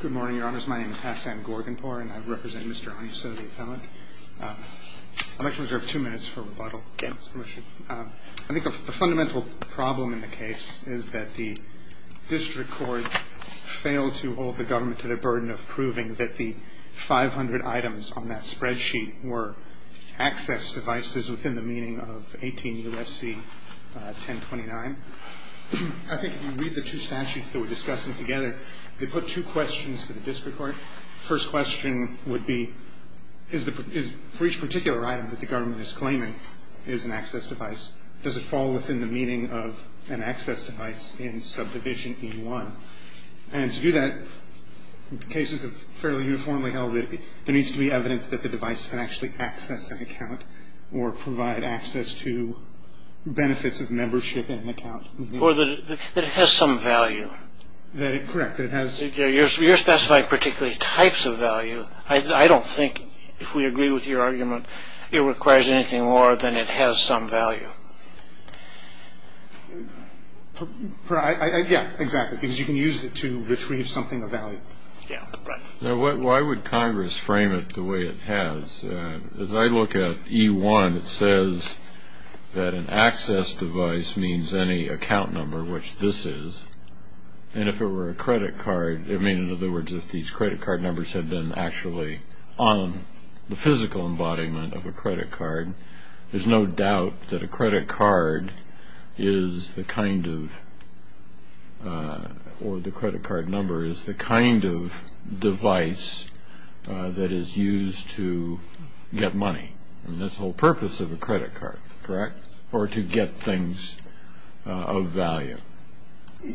Good morning, your honors. My name is Hassan Gorganpour, and I represent Mr. Onyesoh, the appellant. I'd like to reserve two minutes for rebuttal. Okay. I think the fundamental problem in the case is that the district court failed to hold the government to the burden of proving that the 500 items on that spreadsheet were access devices within the meaning of 18 U.S.C. 1029. I think if you read the two statutes that we're discussing together, they put two questions to the district court. First question would be, for each particular item that the government is claiming is an access device, does it fall within the meaning of an access device in subdivision E1? And to do that, cases have fairly uniformly held that there needs to be evidence that the device can actually access an account or provide access to benefits of membership in an account. Or that it has some value. Correct. You're specifying particularly types of value. I don't think, if we agree with your argument, it requires anything more than it has some value. Yeah, exactly. Because you can use it to retrieve something of value. Yeah, right. Now, why would Congress frame it the way it has? As I look at E1, it says that an access device means any account number, which this is. And if it were a credit card, I mean, in other words, if these credit card numbers had been actually on the physical embodiment of a credit card, there's no doubt that a credit card is the kind of or the credit card number is the kind of device that is used to get money. I mean, that's the whole purpose of a credit card, correct? Or to get things of value.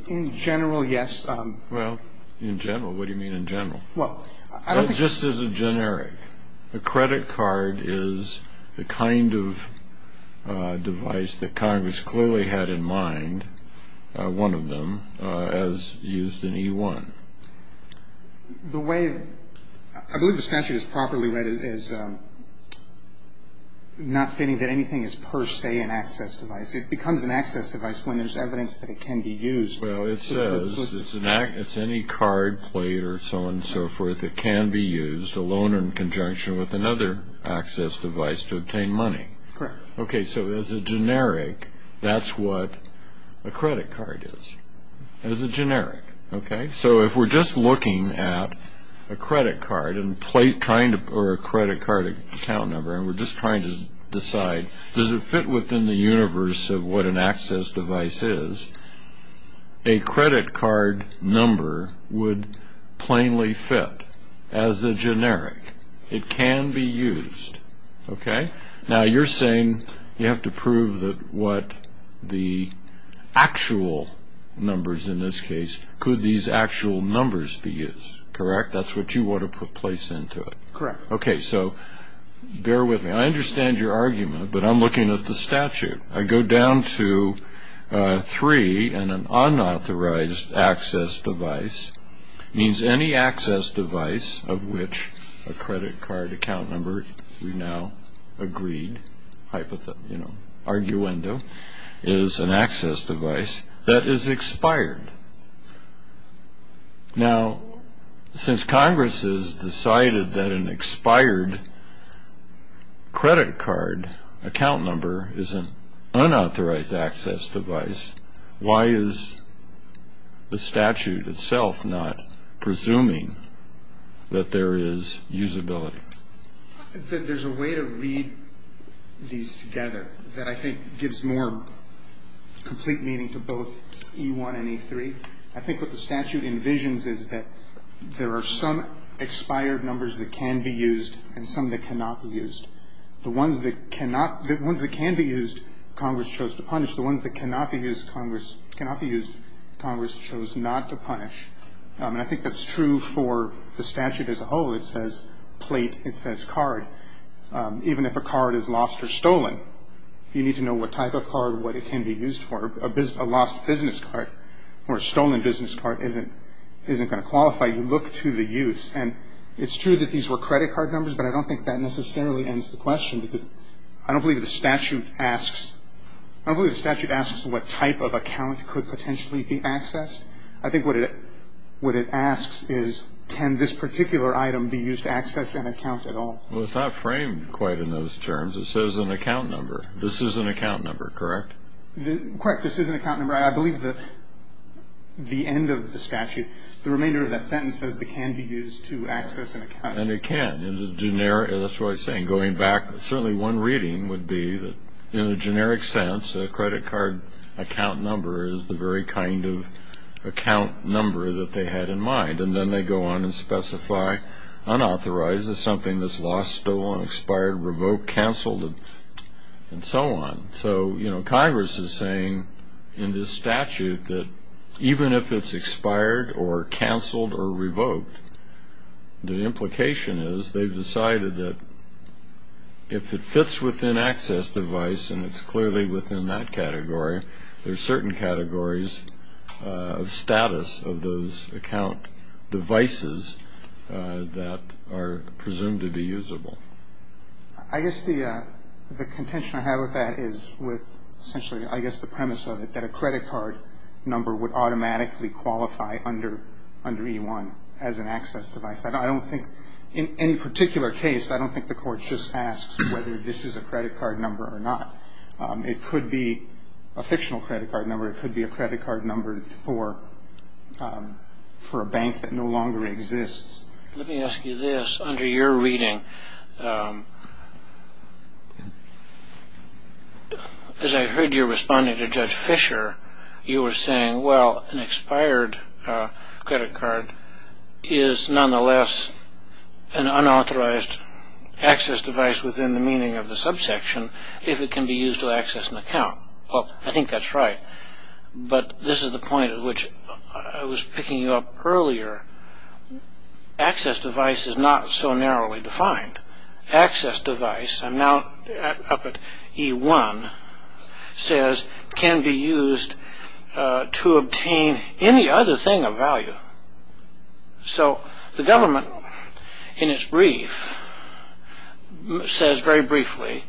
In general, yes. Well, in general, what do you mean in general? Well, I don't think so. Just as a generic. A credit card is the kind of device that Congress clearly had in mind, one of them, as used in E1. The way I believe the statute is properly read is not stating that anything is per se an access device. It becomes an access device when there's evidence that it can be used. Well, it says it's any card, plate, or so on and so forth that can be used alone in conjunction with another access device to obtain money. Correct. Okay, so as a generic, that's what a credit card is. As a generic, okay? So if we're just looking at a credit card or a credit card account number, and we're just trying to decide does it fit within the universe of what an access device is, a credit card number would plainly fit as a generic. It can be used, okay? Now, you're saying you have to prove that what the actual numbers in this case, could these actual numbers be used, correct? That's what you want to place into it. Correct. Okay, so bear with me. I understand your argument, but I'm looking at the statute. I go down to three, and an unauthorized access device means any access device of which a credit card account number, we've now agreed, hypothetically, you know, arguendo, is an access device that is expired. Now, since Congress has decided that an expired credit card account number is an unauthorized access device, why is the statute itself not presuming that there is usability? There's a way to read these together that I think gives more complete meaning to both E1 and E3. I think what the statute envisions is that there are some expired numbers that can be used and some that cannot be used. The ones that cannot, the ones that can be used, Congress chose to punish. The ones that cannot be used, Congress chose not to punish. And I think that's true for the statute as a whole. It says plate. It says card. Even if a card is lost or stolen, you need to know what type of card, what it can be used for. A lost business card or a stolen business card isn't going to qualify. You look to the use. And it's true that these were credit card numbers, but I don't think that necessarily ends the question, because I don't believe the statute asks what type of account could potentially be accessed. I think what it asks is, can this particular item be used to access an account at all? Well, it's not framed quite in those terms. It says an account number. This is an account number, correct? Correct. This is an account number. I believe the end of the statute, the remainder of that sentence says it can be used to access an account. And it can. That's what I'm saying. Certainly one reading would be that, in a generic sense, a credit card account number is the very kind of account number that they had in mind. And then they go on and specify unauthorized as something that's lost, stolen, expired, revoked, canceled, and so on. So Congress is saying in this statute that even if it's expired or canceled or revoked, the implication is they've decided that if it fits within access device and it's clearly within that category, there are certain categories of status of those account devices that are presumed to be usable. I guess the contention I have with that is with essentially, I guess, the premise of it, that a credit card number would automatically qualify under E-1 as an access device. I don't think in any particular case, I don't think the Court just asks whether this is a credit card number or not. It could be a fictional credit card number. It could be a credit card number for a bank that no longer exists. Let me ask you this. Under your reading, as I heard you responding to Judge Fisher, you were saying, well, an expired credit card is nonetheless an unauthorized access device within the meaning of the subsection if it can be used to access an account. Well, I think that's right. But this is the point at which I was picking up earlier. Access device is not so narrowly defined. Access device, I'm now up at E-1, says can be used to obtain any other thing of value. So the government, in its brief, says very briefly,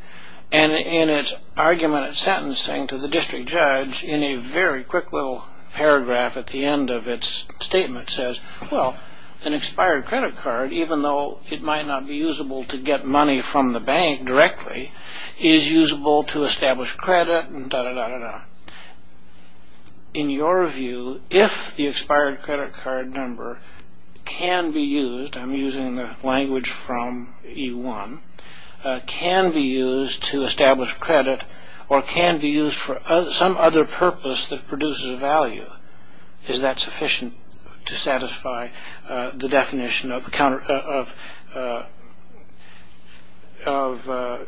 and in its argument at sentencing to the district judge in a very quick little paragraph at the end of its statement, it says, well, an expired credit card, even though it might not be usable to get money from the bank directly, is usable to establish credit and da-da-da-da-da. In your view, if the expired credit card number can be used, I'm using the language from E-1, can be used to establish credit or can be used for some other purpose that produces value, is that sufficient to satisfy the definition of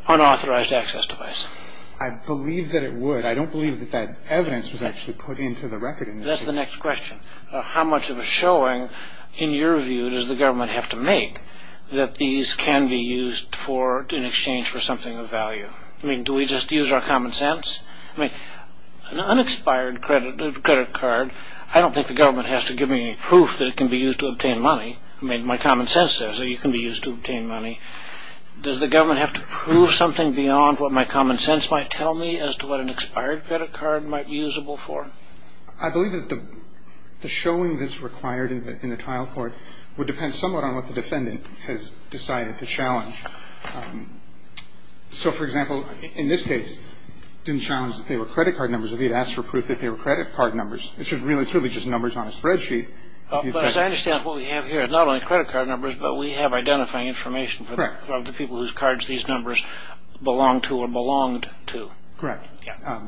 unauthorized access device? I believe that it would. I don't believe that that evidence was actually put into the record. That's the next question. How much of a showing, in your view, does the government have to make that these can be used in exchange for something of value? I mean, do we just use our common sense? I mean, an expired credit card, I don't think the government has to give me any proof that it can be used to obtain money. I mean, my common sense says that it can be used to obtain money. Does the government have to prove something beyond what my common sense might tell me as to what an expired credit card might be usable for? I believe that the showing that's required in the trial court would depend somewhat on what the defendant has decided to challenge. So, for example, in this case, it didn't challenge that they were credit card numbers. If he had asked for proof that they were credit card numbers, it's just really, truly just numbers on a spreadsheet. But as I understand, what we have here is not only credit card numbers, but we have identifying information for the people whose cards these numbers belong to or belonged to. Correct.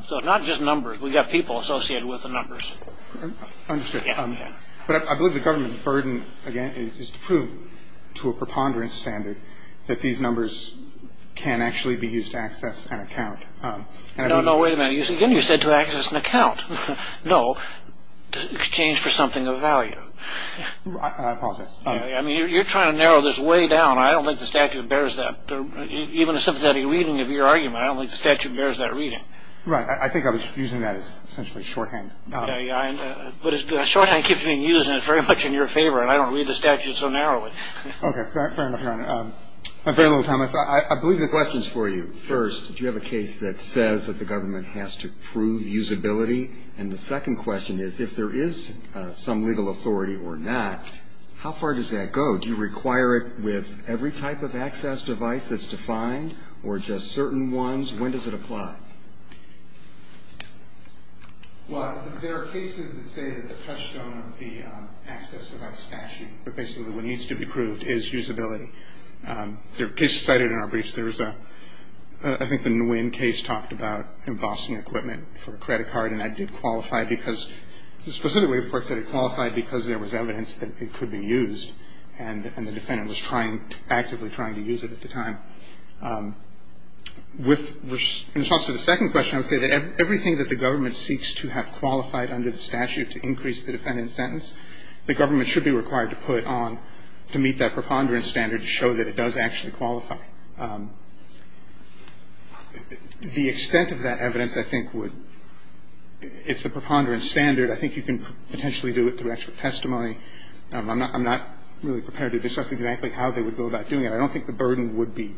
So it's not just numbers. We've got people associated with the numbers. Understood. But I believe the government's burden, again, is to prove to a preponderance standard that these numbers can actually be used to access an account. No, no, wait a minute. Again, you said to access an account. No, exchange for something of value. I apologize. I mean, you're trying to narrow this way down. I don't think the statute bears that. Even a sympathetic reading of your argument, I don't think the statute bears that reading. Right. I think I was using that as essentially shorthand. But shorthand keeps being used, and it's very much in your favor, and I don't read the statute so narrowly. Okay. Fair enough, Your Honor. I have very little time. I believe the question's for you. First, do you have a case that says that the government has to prove usability? And the second question is, if there is some legal authority or not, how far does that go? Do you require it with every type of access device that's defined or just certain ones? When does it apply? Well, there are cases that say that the touchstone of the access device statute, but basically what needs to be proved, is usability. There are cases cited in our briefs. There was a ñ I think the Nguyen case talked about embossing equipment for a credit card, and that did qualify because ñ specifically, the court said it qualified because there was evidence that it could be used, and the defendant was actively trying to use it at the time. With ñ in response to the second question, I would say that everything that the government seeks to have qualified under the statute to increase the defendant's sentence, the government should be required to put on, to meet that preponderance standard to show that it does actually qualify. The extent of that evidence, I think, would ñ it's a preponderance standard. I think you can potentially do it through extra testimony. I'm not ñ I'm not really prepared to discuss exactly how they would go about doing it. I don't think the burden would be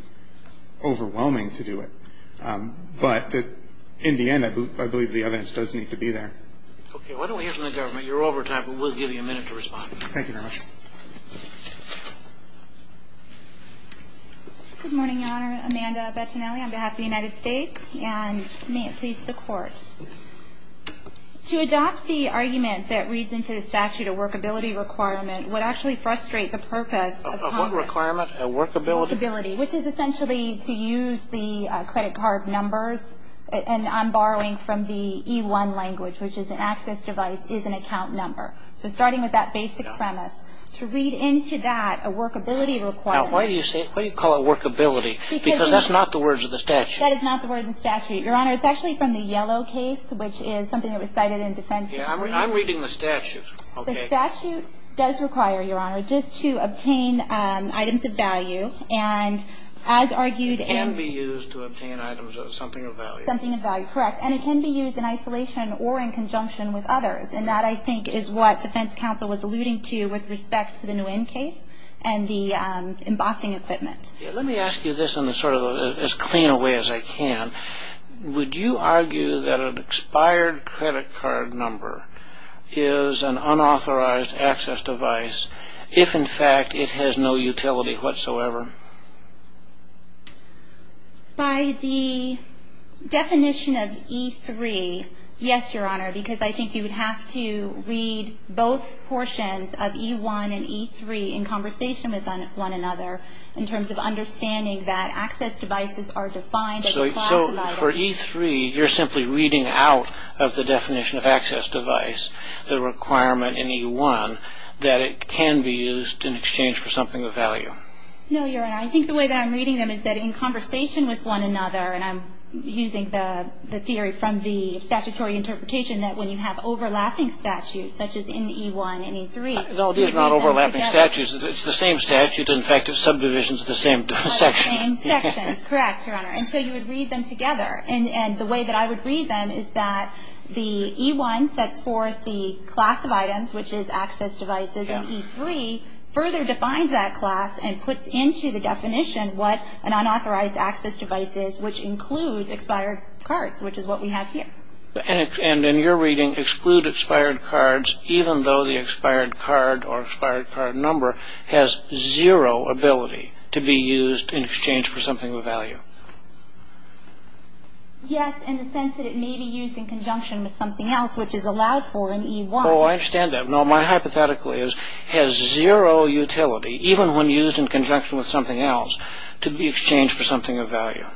overwhelming to do it. But in the end, I believe the evidence does need to be there. Okay. Why don't we hear from the government? You're over time, but we'll give you a minute to respond. Thank you very much. Good morning, Your Honor. Amanda Bettinelli on behalf of the United States, and may it please the Court. To adopt the argument that reads into the statute a workability requirement would actually frustrate the purpose of Congress. What is a workability requirement? A workability. Workability, which is essentially to use the credit card numbers. And I'm borrowing from the E-1 language, which is an access device is an account number. So starting with that basic premise, to read into that a workability requirement ñ Now, why do you say ñ why do you call it workability? Because that's not the words of the statute. That is not the words of the statute. Your Honor, it's actually from the Yellow case, which is something that was cited in defense. I'm reading the statute. Okay. The statute does require, Your Honor, just to obtain items of value. And as argued in ñ It can be used to obtain items of something of value. Something of value, correct. And it can be used in isolation or in conjunction with others. And that, I think, is what defense counsel was alluding to with respect to the Nguyen case and the embossing equipment. Let me ask you this in sort of as clean a way as I can. Would you argue that an expired credit card number is an unauthorized access device if, in fact, it has no utility whatsoever? By the definition of E3, yes, Your Honor, because I think you would have to read both portions of E1 and E3 in conversation with one another in terms of the definition of access device. So for E3, you're simply reading out of the definition of access device, the requirement in E1, that it can be used in exchange for something of value. No, Your Honor. I think the way that I'm reading them is that in conversation with one another, and I'm using the theory from the statutory interpretation that when you have overlapping statutes, such as in E1 and E3, you read them together. It's the same statute. In fact, it subdivisions the same section. Correct, Your Honor. And so you would read them together. And the way that I would read them is that the E1 sets forth the class of items, which is access devices, and E3 further defines that class and puts into the definition what an unauthorized access device is, which includes expired cards, which is what we have here. And in your reading, exclude expired cards, even though the expired card or expired card number has zero ability to be used in exchange for something of value. Yes, in the sense that it may be used in conjunction with something else, which is allowed for in E1. Oh, I understand that. No, my hypothetical is it has zero utility, even when used in conjunction with something else, to be exchanged for something of value.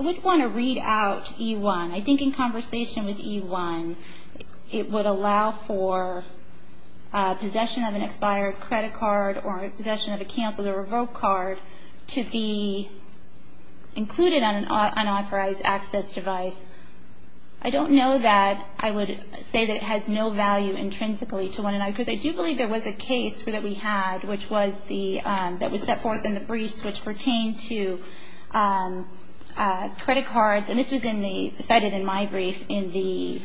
I would want to read out E1. I think in conversation with E1, it would allow for possession of an expired credit card or possession of a canceled or revoked card to be included on an unauthorized access device. I don't know that I would say that it has no value intrinsically to one another, because I do believe there was a case that we had that was set forth in the briefs which pertained to credit cards. And this was cited in my brief in the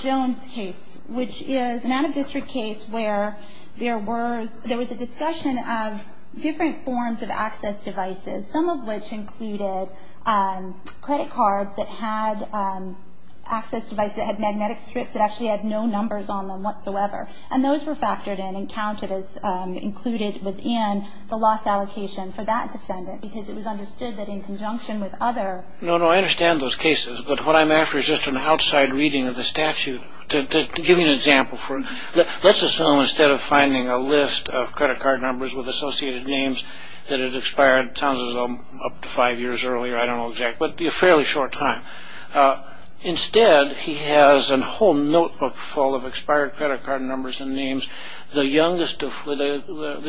Jones case, which is an out-of-district case where there was a discussion of different forms of access devices, some of which included credit cards that had access devices that had magnetic strips that actually had no numbers on them whatsoever. And those were factored in and counted as included within the loss allocation for that defendant, because it was understood that in conjunction with other. No, no. I understand those cases. But what I'm after is just an outside reading of the statute. To give you an example, let's assume instead of finding a list of credit card numbers with associated names that had expired, it sounds as though up to five years earlier, I don't know exactly, but a fairly short time. Instead, he has a whole notebook full of expired credit card numbers and names. The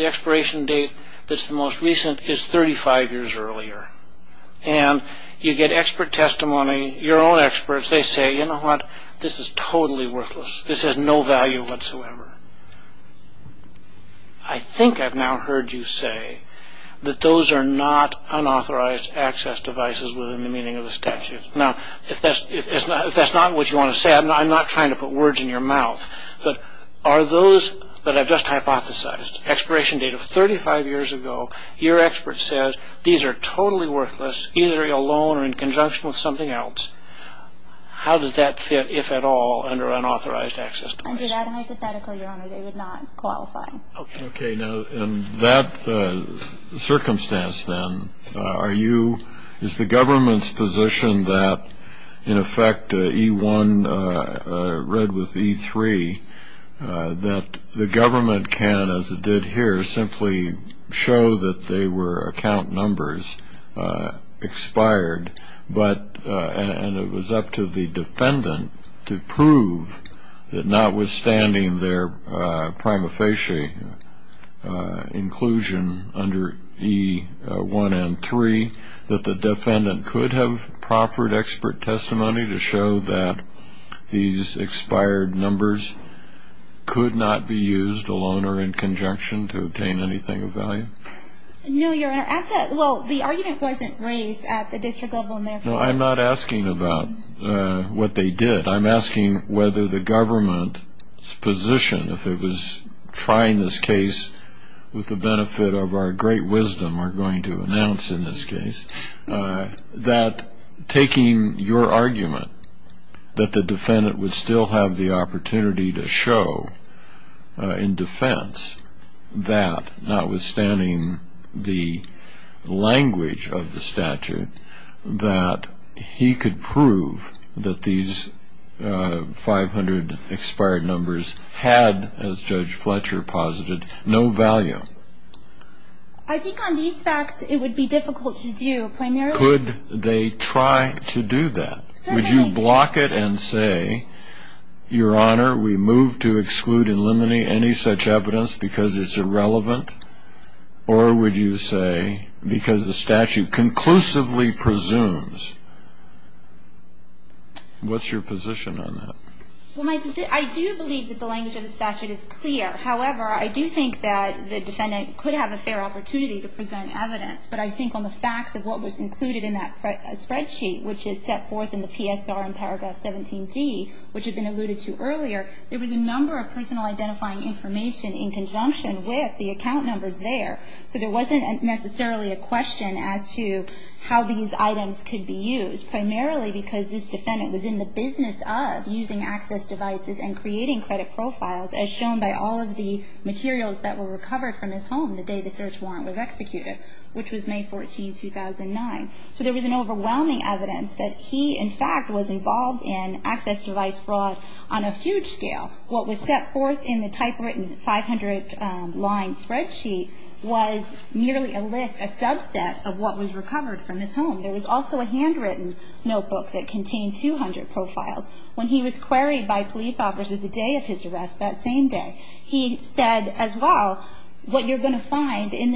expiration date that's the most recent is 35 years earlier. And you get expert testimony. Your own experts, they say, you know what? This is totally worthless. This has no value whatsoever. I think I've now heard you say that those are not unauthorized access devices within the meaning of the statute. Now, if that's not what you want to say, I'm not trying to put words in your mouth. But are those that I've just hypothesized, expiration date of 35 years ago, your expert says these are totally worthless, either alone or in conjunction with something else. How does that fit, if at all, under unauthorized access devices? Under that hypothetical, Your Honor, they would not qualify. Okay. Now, in that circumstance, then, are you, is the government's position that, in effect, E1 read with E3, that the government can, as it did here, simply show that they were account numbers expired, and it was up to the defendant to prove that notwithstanding their prima facie inclusion under E1 and E3, that the defendant could have proffered expert testimony to show that these expired numbers could not be used, alone or in conjunction, to obtain anything of value? No, Your Honor. Well, the argument wasn't raised at the district level. No, I'm not asking about what they did. I'm asking whether the government's position, if it was trying this case with the benefit of our great wisdom we're going to announce in this case, that taking your argument that the defendant would still have the opportunity to show in defense that, notwithstanding the language of the statute, that he could prove that these 500 expired numbers had, as Judge Fletcher posited, no value. I think on these facts it would be difficult to do, primarily. Could they try to do that? Would you block it and say, Your Honor, we move to exclude and eliminate any such evidence because it's irrelevant, or would you say because the statute conclusively presumes? What's your position on that? Well, I do believe that the language of the statute is clear. However, I do think that the defendant could have a fair opportunity to present evidence, but I think on the facts of what was included in that spreadsheet, which is set forth in the PSR in paragraph 17D, which had been alluded to earlier, there was a number of personal identifying information in conjunction with the account numbers there. So there wasn't necessarily a question as to how these items could be used, primarily because this defendant was in the business of using access devices and creating credit profiles, as shown by all of the materials that were recovered from his home the day the search warrant was executed, which was May 14, 2009. So there was an overwhelming evidence that he, in fact, was involved in access device fraud on a huge scale. What was set forth in the typewritten 500-line spreadsheet was merely a list, a subset of what was recovered from his home. There was also a handwritten notebook that contained 200 profiles. When he was queried by police officers the day of his arrest, that same day, he said, as well, what you're going to find in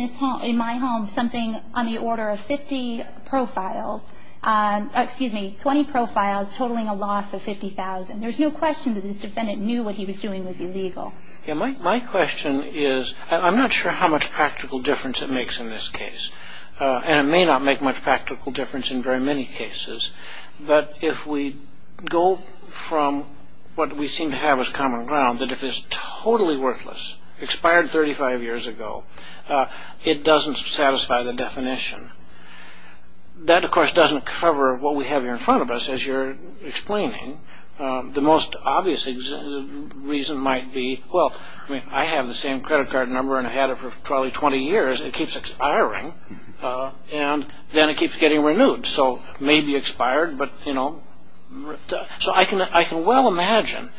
my home is something on the order of 50 profiles, excuse me, 20 profiles totaling a loss of $50,000. There's no question that this defendant knew what he was doing was illegal. My question is, I'm not sure how much practical difference it makes in this case, and it may not make much practical difference in very many cases, but if we go from what we seem to have as common ground, that if it's totally worthless, expired 35 years ago, it doesn't satisfy the definition. That, of course, doesn't cover what we have here in front of us, as you're explaining. The most obvious reason might be, well, I mean, I have the same credit card number, and I had it for probably 20 years. It keeps expiring, and then it keeps getting renewed. So it may be expired, but, you know. So I can well imagine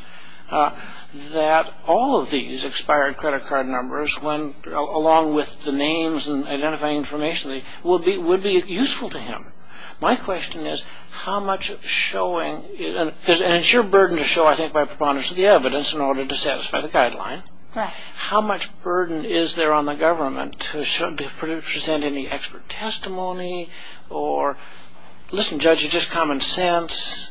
that all of these expired credit card numbers, along with the names and identifying information, would be useful to him. My question is how much showing, and it's your burden to show, I think, by preponderance of the evidence in order to satisfy the guideline. How much burden is there on the government to present any expert testimony or, listen, Judge, it's just common sense.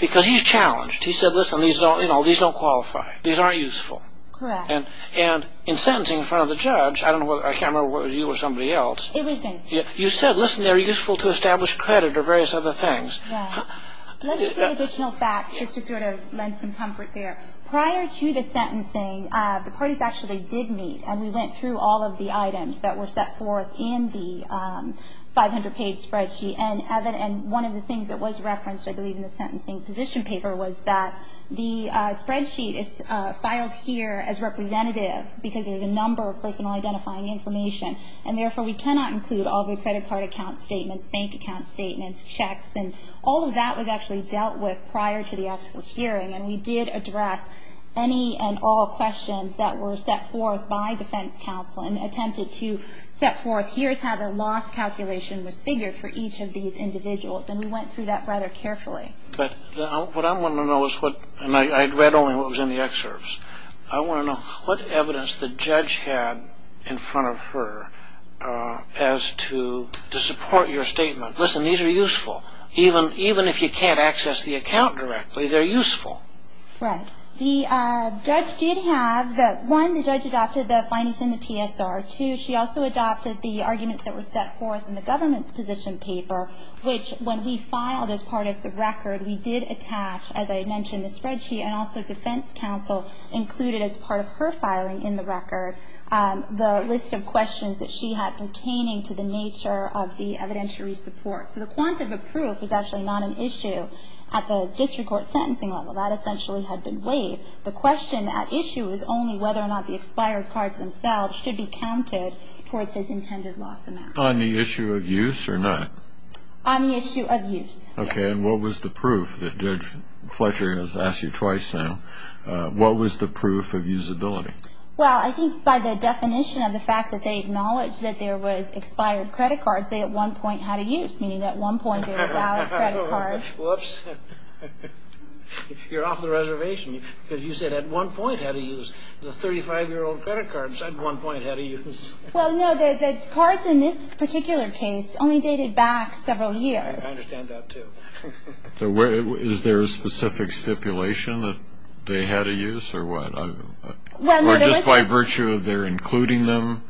Because he's challenged. He said, listen, these don't qualify. These aren't useful. Correct. And in sentencing in front of the judge, I can't remember whether it was you or somebody else. It was him. You said, listen, they're useful to establish credit or various other things. Right. Let me give you additional facts just to sort of lend some comfort there. Prior to the sentencing, the parties actually did meet, and we went through all of the items that were set forth in the 500-page spreadsheet. And one of the things that was referenced, I believe, in the sentencing position paper, was that the spreadsheet is filed here as representative because there's a number of personal identifying information. And, therefore, we cannot include all the credit card account statements, bank account statements, checks. And all of that was actually dealt with prior to the actual hearing. And we did address any and all questions that were set forth by defense counsel and attempted to set forth here's how the loss calculation was figured for each of these individuals. And we went through that rather carefully. But what I want to know is what, and I read only what was in the excerpts, I want to know what evidence the judge had in front of her as to support your statement. Listen, these are useful. Even if you can't access the account directly, they're useful. Right. The judge did have, one, the judge adopted the findings in the PSR. Two, she also adopted the arguments that were set forth in the government's position paper, which when we filed as part of the record, we did attach, as I had mentioned, the spreadsheet and also defense counsel included as part of her filing in the record the list of questions that she had pertaining to the nature of the evidentiary support. So the quantum of proof was actually not an issue at the district court sentencing level. That essentially had been waived. The question at issue was only whether or not the expired cards themselves should be counted towards this intended loss amount. On the issue of use or not? On the issue of use. Okay. And what was the proof? Judge Fletcher has asked you twice now. What was the proof of usability? Well, I think by the definition of the fact that they acknowledged that there was expired credit cards, they at one point had a use, meaning at one point they were valid credit cards. Whoops. You're off the reservation because you said at one point had a use. The 35-year-old credit cards at one point had a use. Well, no, the cards in this particular case only dated back several years. I understand that, too. Is there a specific stipulation that they had a use or what? Or just by virtue of their including them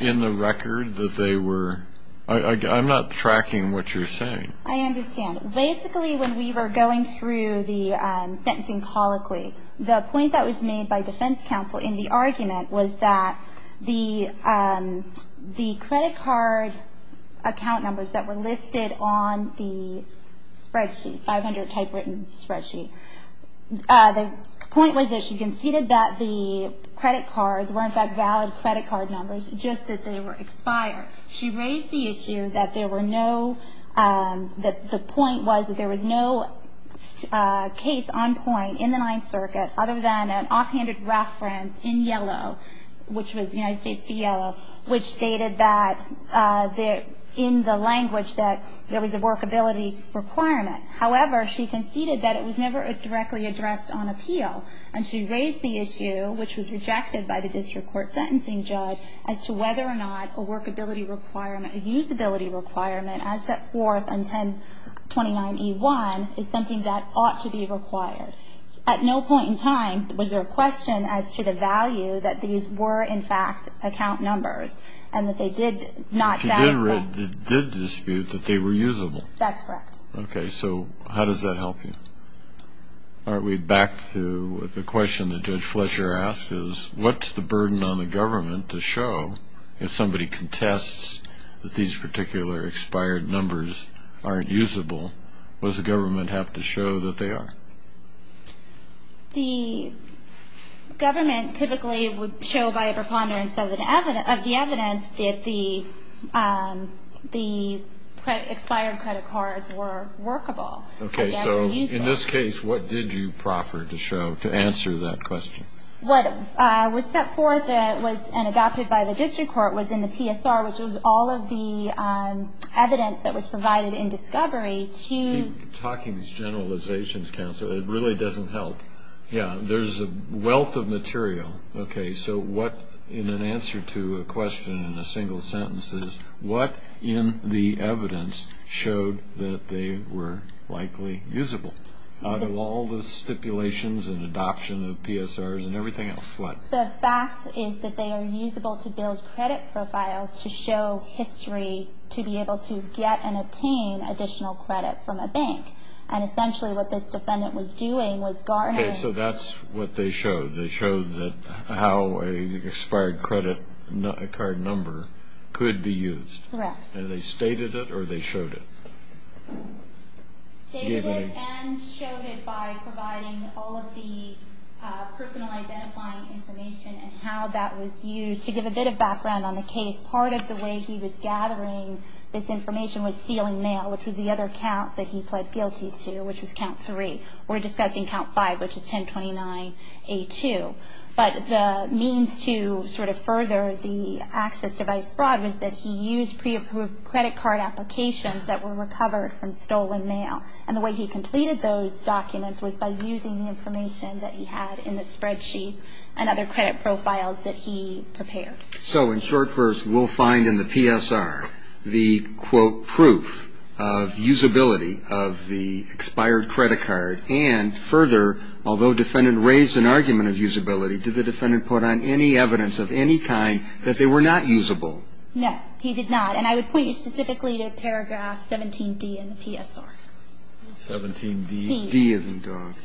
in the record that they were? I'm not tracking what you're saying. I understand. Basically, when we were going through the sentencing colloquy, the point that was made by defense counsel in the argument was that the credit card account numbers that were listed on the spreadsheet, 500-type written spreadsheet, the point was that she conceded that the credit cards were, in fact, valid credit card numbers, just that they were expired. She raised the issue that there were no, that the point was that there was no case on point in the Ninth Circuit other than an offhanded reference in yellow, which was United States v. Yellow, which stated that in the language that there was a workability requirement. However, she conceded that it was never directly addressed on appeal, and she raised the issue, which was rejected by the district court sentencing judge, as to whether or not a workability requirement, a usability requirement, as set forth in 1029E1 is something that ought to be required. At no point in time was there a question as to the value that these were, in fact, account numbers and that they did not satisfy. She did dispute that they were usable. That's correct. Okay, so how does that help you? All right, we're back to the question that Judge Fletcher asked is, what's the burden on the government to show, if somebody contests that these particular expired numbers aren't usable, does the government have to show that they are? The government typically would show by a preponderance of the evidence that the expired credit cards were workable. Okay, so in this case, what did you proffer to show to answer that question? What was set forth and adopted by the district court was in the PSR, which was all of the evidence that was provided in discovery to you. You keep talking these generalizations, Counselor. It really doesn't help. Yeah, there's a wealth of material. Okay, so what, in an answer to a question in a single sentence, is what in the evidence showed that they were likely usable? Out of all the stipulations and adoption of PSRs and everything else, what? The fact is that they are usable to build credit profiles to show history to be able to get and obtain additional credit from a bank. And essentially what this defendant was doing was garnering. Okay, so that's what they showed. They showed how an expired credit card number could be used. Correct. And they stated it or they showed it? Stated it and showed it by providing all of the personal identifying information and how that was used. To give a bit of background on the case, part of the way he was gathering this information was stealing mail, which was the other count that he pled guilty to, which was count three. We're discussing count five, which is 1029A2. But the means to sort of further the access device fraud was that he used pre-approved credit card applications that were recovered from stolen mail. And the way he completed those documents was by using the information that he had in the spreadsheet and other credit profiles that he prepared. So in short, first, we'll find in the PSR the, quote, useability of the expired credit card. And further, although defendant raised an argument of usability, did the defendant put on any evidence of any kind that they were not usable? No, he did not. And I would point you specifically to paragraph 17D in the PSR. 17D? D as in document.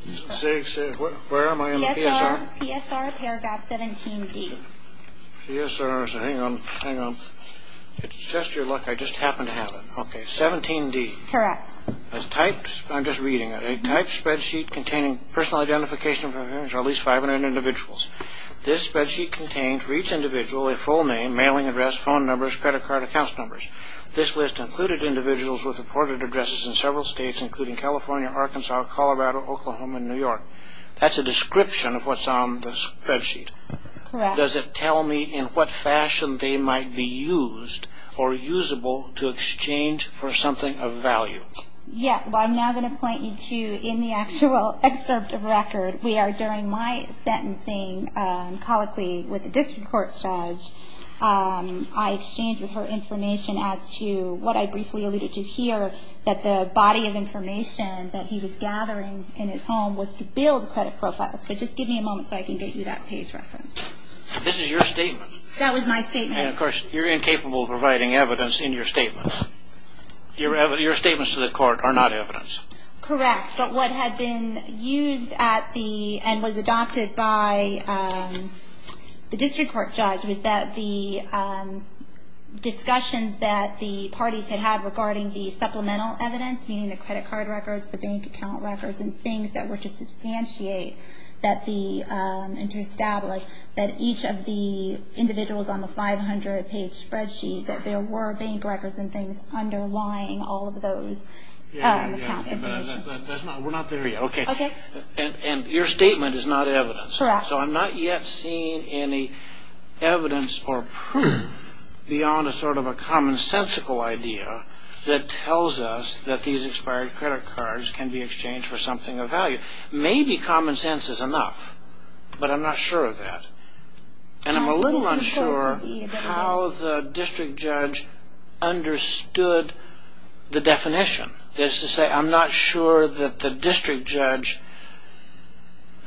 Where am I in the PSR? PSR, paragraph 17D. PSR. Hang on, hang on. It's just your luck. I just happen to have it. Okay, 17D. Correct. A typed, I'm just reading it, a typed spreadsheet containing personal identification of at least 500 individuals. This spreadsheet contained for each individual a full name, mailing address, phone numbers, credit card account numbers. This list included individuals with reported addresses in several states, including California, Arkansas, Colorado, Oklahoma, and New York. That's a description of what's on the spreadsheet. Correct. Does it tell me in what fashion they might be used or usable to exchange for something of value? Yes. Well, I'm now going to point you to, in the actual excerpt of record, we are during my sentencing colloquy with the district court judge. I exchanged with her information as to what I briefly alluded to here, that the body of information that he was gathering in his home was to build credit profiles. But just give me a moment so I can get you that page reference. This is your statement. That was my statement. And, of course, you're incapable of providing evidence in your statement. Your statements to the court are not evidence. Correct. But what had been used at the, and was adopted by the district court judge, was that the discussions that the parties had had regarding the supplemental evidence, meaning the credit card records, the bank account records, and things that were to substantiate and to establish that each of the individuals on the 500-page spreadsheet, that there were bank records and things underlying all of those account information. We're not there yet. Okay. Okay. And your statement is not evidence. Correct. So I'm not yet seeing any evidence or proof beyond a sort of a commonsensical idea that tells us that these expired credit cards can be exchanged for something of value. Maybe commonsense is enough, but I'm not sure of that. And I'm a little unsure how the district judge understood the definition. That is to say, I'm not sure that the district judge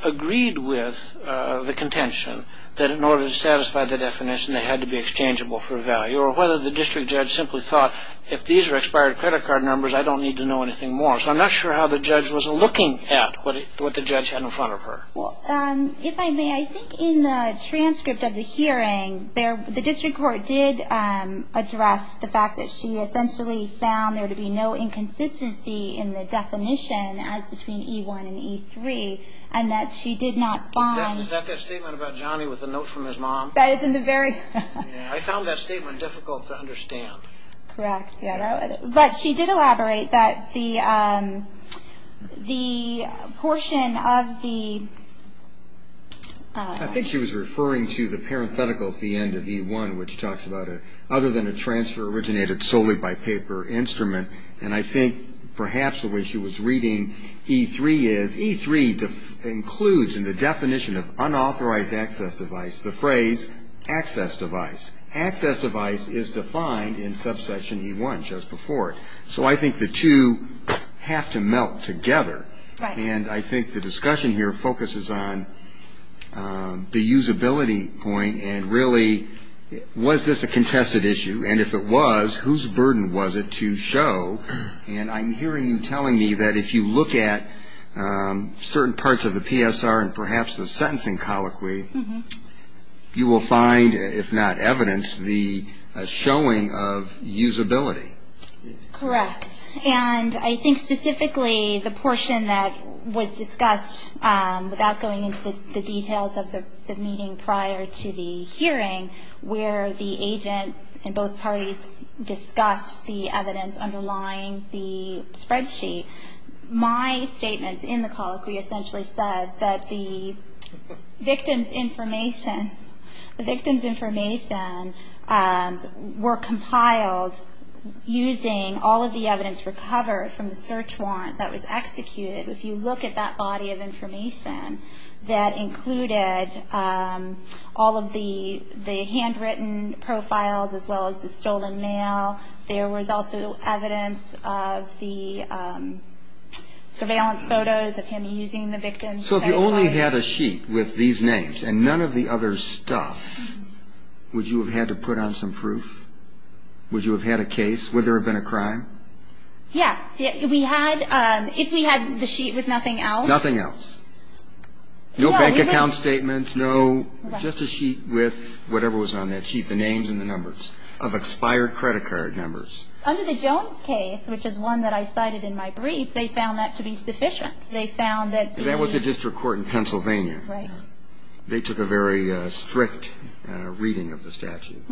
agreed with the contention that in order to satisfy the definition they had to be exchangeable for value, or whether the district judge simply thought, if these are expired credit card numbers, I don't need to know anything more. So I'm not sure how the judge was looking at what the judge had in front of her. If I may, I think in the transcript of the hearing, the district court did address the fact that she essentially found there to be no inconsistency in the definition, as between E1 and E3, and that she did not find. Is that the statement about Johnny with the note from his mom? That is in the very. I found that statement difficult to understand. Correct. But she did elaborate that the portion of the... I think she was referring to the parenthetical at the end of E1, which talks about other than a transfer originated solely by paper instrument. And I think perhaps the way she was reading E3 is, E3 includes in the definition of unauthorized access device the phrase access device. Access device is defined in subsection E1 just before it. So I think the two have to melt together. Right. And I think the discussion here focuses on the usability point, and really, was this a contested issue? And if it was, whose burden was it to show? And I'm hearing you telling me that if you look at certain parts of the PSR and perhaps the sentencing colloquy, you will find, if not evidence, the showing of usability. Correct. And I think specifically the portion that was discussed, without going into the details of the meeting prior to the hearing, where the agent and both parties discussed the evidence underlying the spreadsheet, my statements in the colloquy essentially said that the victim's information were compiled using all of the evidence recovered from the search warrant that was executed. If you look at that body of information that included all of the handwritten profiles as well as the stolen mail, there was also evidence of the surveillance photos of him using the victim's cell phone. So if you only had a sheet with these names and none of the other stuff, would you have had to put on some proof? Would you have had a case? Would there have been a crime? Yes. If we had the sheet with nothing else? Nothing else. No bank account statements. No. Just a sheet with whatever was on that sheet, the names and the numbers of expired credit card numbers. Under the Jones case, which is one that I cited in my brief, they found that to be sufficient. They found that the – That was a district court in Pennsylvania. Right. They took a very strict reading of the statute.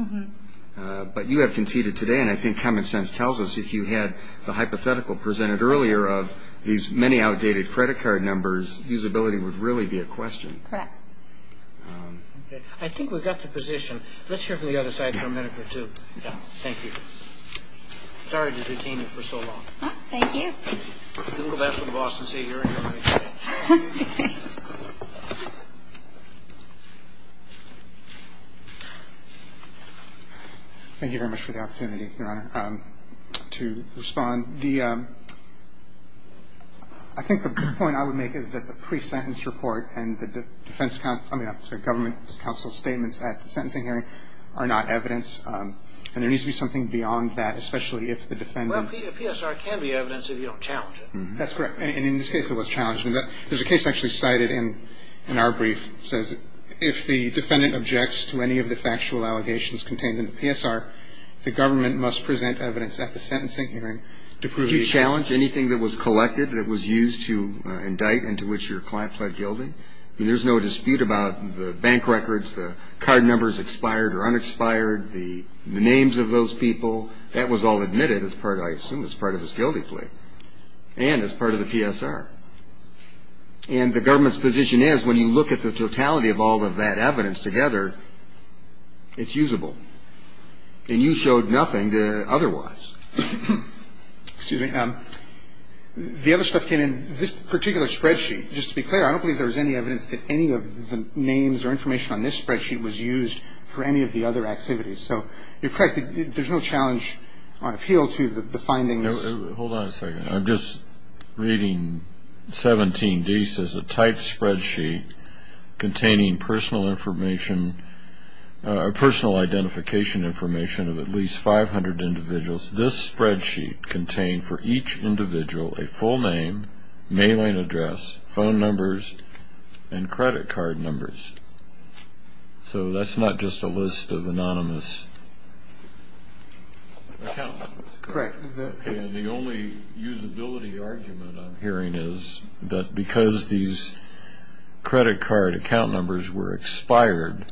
But you have conceded today, and I think common sense tells us if you had the hypothetical presented earlier of these many outdated credit card numbers, usability would really be a question. Correct. Okay. I think we've got the position. Let's hear from the other side for a minute or two. Yeah. Thank you. Sorry to detain you for so long. Thank you. We'll go back to the boss and see if you're in here with me today. Okay. Thank you very much for the opportunity, Your Honor, to respond. The – I think the point I would make is that the pre-sentence report and the defense – I mean, I'm sorry, government counsel statements at the sentencing hearing are not evidence, and there needs to be something beyond that, especially if the defendant – A PSR can be evidence if you don't challenge it. That's correct. And in this case, it was challenged. There's a case actually cited in our brief that says, if the defendant objects to any of the factual allegations contained in the PSR, the government must present evidence at the sentencing hearing to prove the – Do you challenge anything that was collected, that was used to indict and to which your client pled guilty? I mean, there's no dispute about the bank records, the card numbers expired or unexpired, the names of those people. That was all admitted as part, I assume, as part of this guilty plea and as part of the PSR. And the government's position is when you look at the totality of all of that evidence together, it's usable. And you showed nothing to otherwise. Excuse me. The other stuff came in this particular spreadsheet. Just to be clear, I don't believe there was any evidence that any of the names or information on this spreadsheet was used for any of the other activities. So you're correct. There's no challenge or appeal to the findings. Hold on a second. I'm just reading 17D. It says, A typed spreadsheet containing personal information – personal identification information of at least 500 individuals. This spreadsheet contained for each individual a full name, mailing address, phone numbers, and credit card numbers. So that's not just a list of anonymous account numbers. Correct. And the only usability argument I'm hearing is that because these credit card account numbers were expired,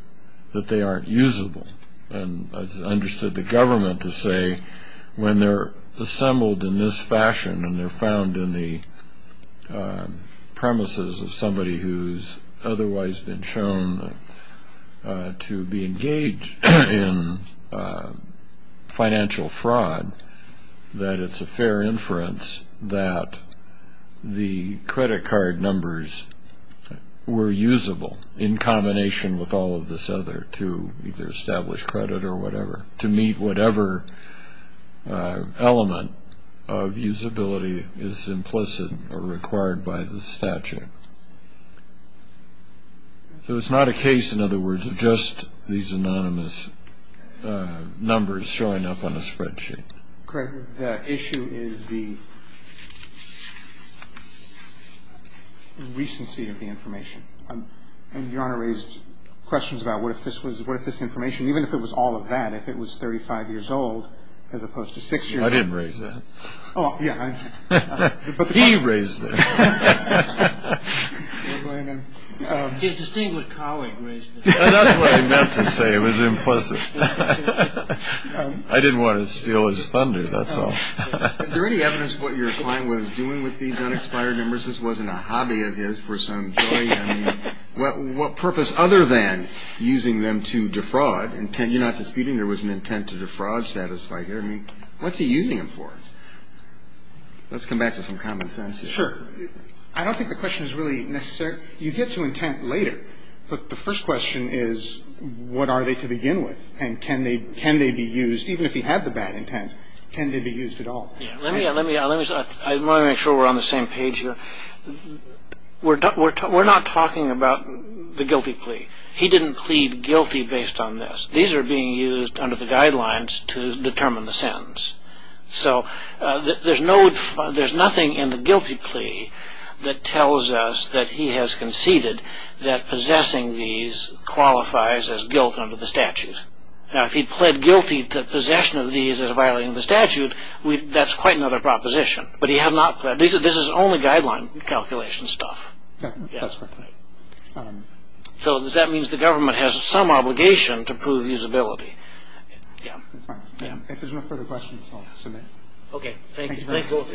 that they aren't usable. And I understood the government to say when they're assembled in this fashion and they're found in the premises of somebody who's otherwise been shown to be engaged in financial fraud, that it's a fair inference that the credit card numbers were usable in combination with all of this other credit or whatever to meet whatever element of usability is implicit or required by the statute. So it's not a case, in other words, of just these anonymous numbers showing up on a spreadsheet. Correct. The issue is the recency of the information. And Your Honor raised questions about what if this information, even if it was all of that, if it was 35 years old as opposed to six years old. I didn't raise that. Oh, yeah. He raised it. His distinguished colleague raised it. That's what I meant to say. It was implicit. I didn't want to steal his thunder. That's all. Is there any evidence of what your client was doing with these unexpired numbers? I mean, I suppose this wasn't a hobby of his for some joy. I mean, what purpose other than using them to defraud? You're not disputing there was an intent to defraud, satisfy here. I mean, what's he using them for? Let's come back to some common sense here. Sure. I don't think the question is really necessary. You get to intent later. But the first question is what are they to begin with and can they be used, even if you have the bad intent, can they be used at all? Let me make sure we're on the same page here. We're not talking about the guilty plea. He didn't plead guilty based on this. These are being used under the guidelines to determine the sentence. So there's nothing in the guilty plea that tells us that he has conceded that possessing these qualifies as guilt under the statute. Now, if he pled guilty to possession of these as violating the statute, that's quite another proposition. But this is only guideline calculation stuff. So that means the government has some obligation to prove usability. If there's no further questions, I'll submit. Okay. Thank you.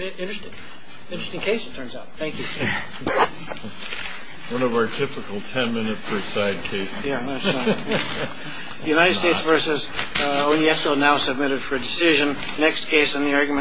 Interesting case it turns out. Thank you. One of our typical ten-minute per side cases. The United States versus. Oh, yes. So now submitted for decision. Next case in the argument.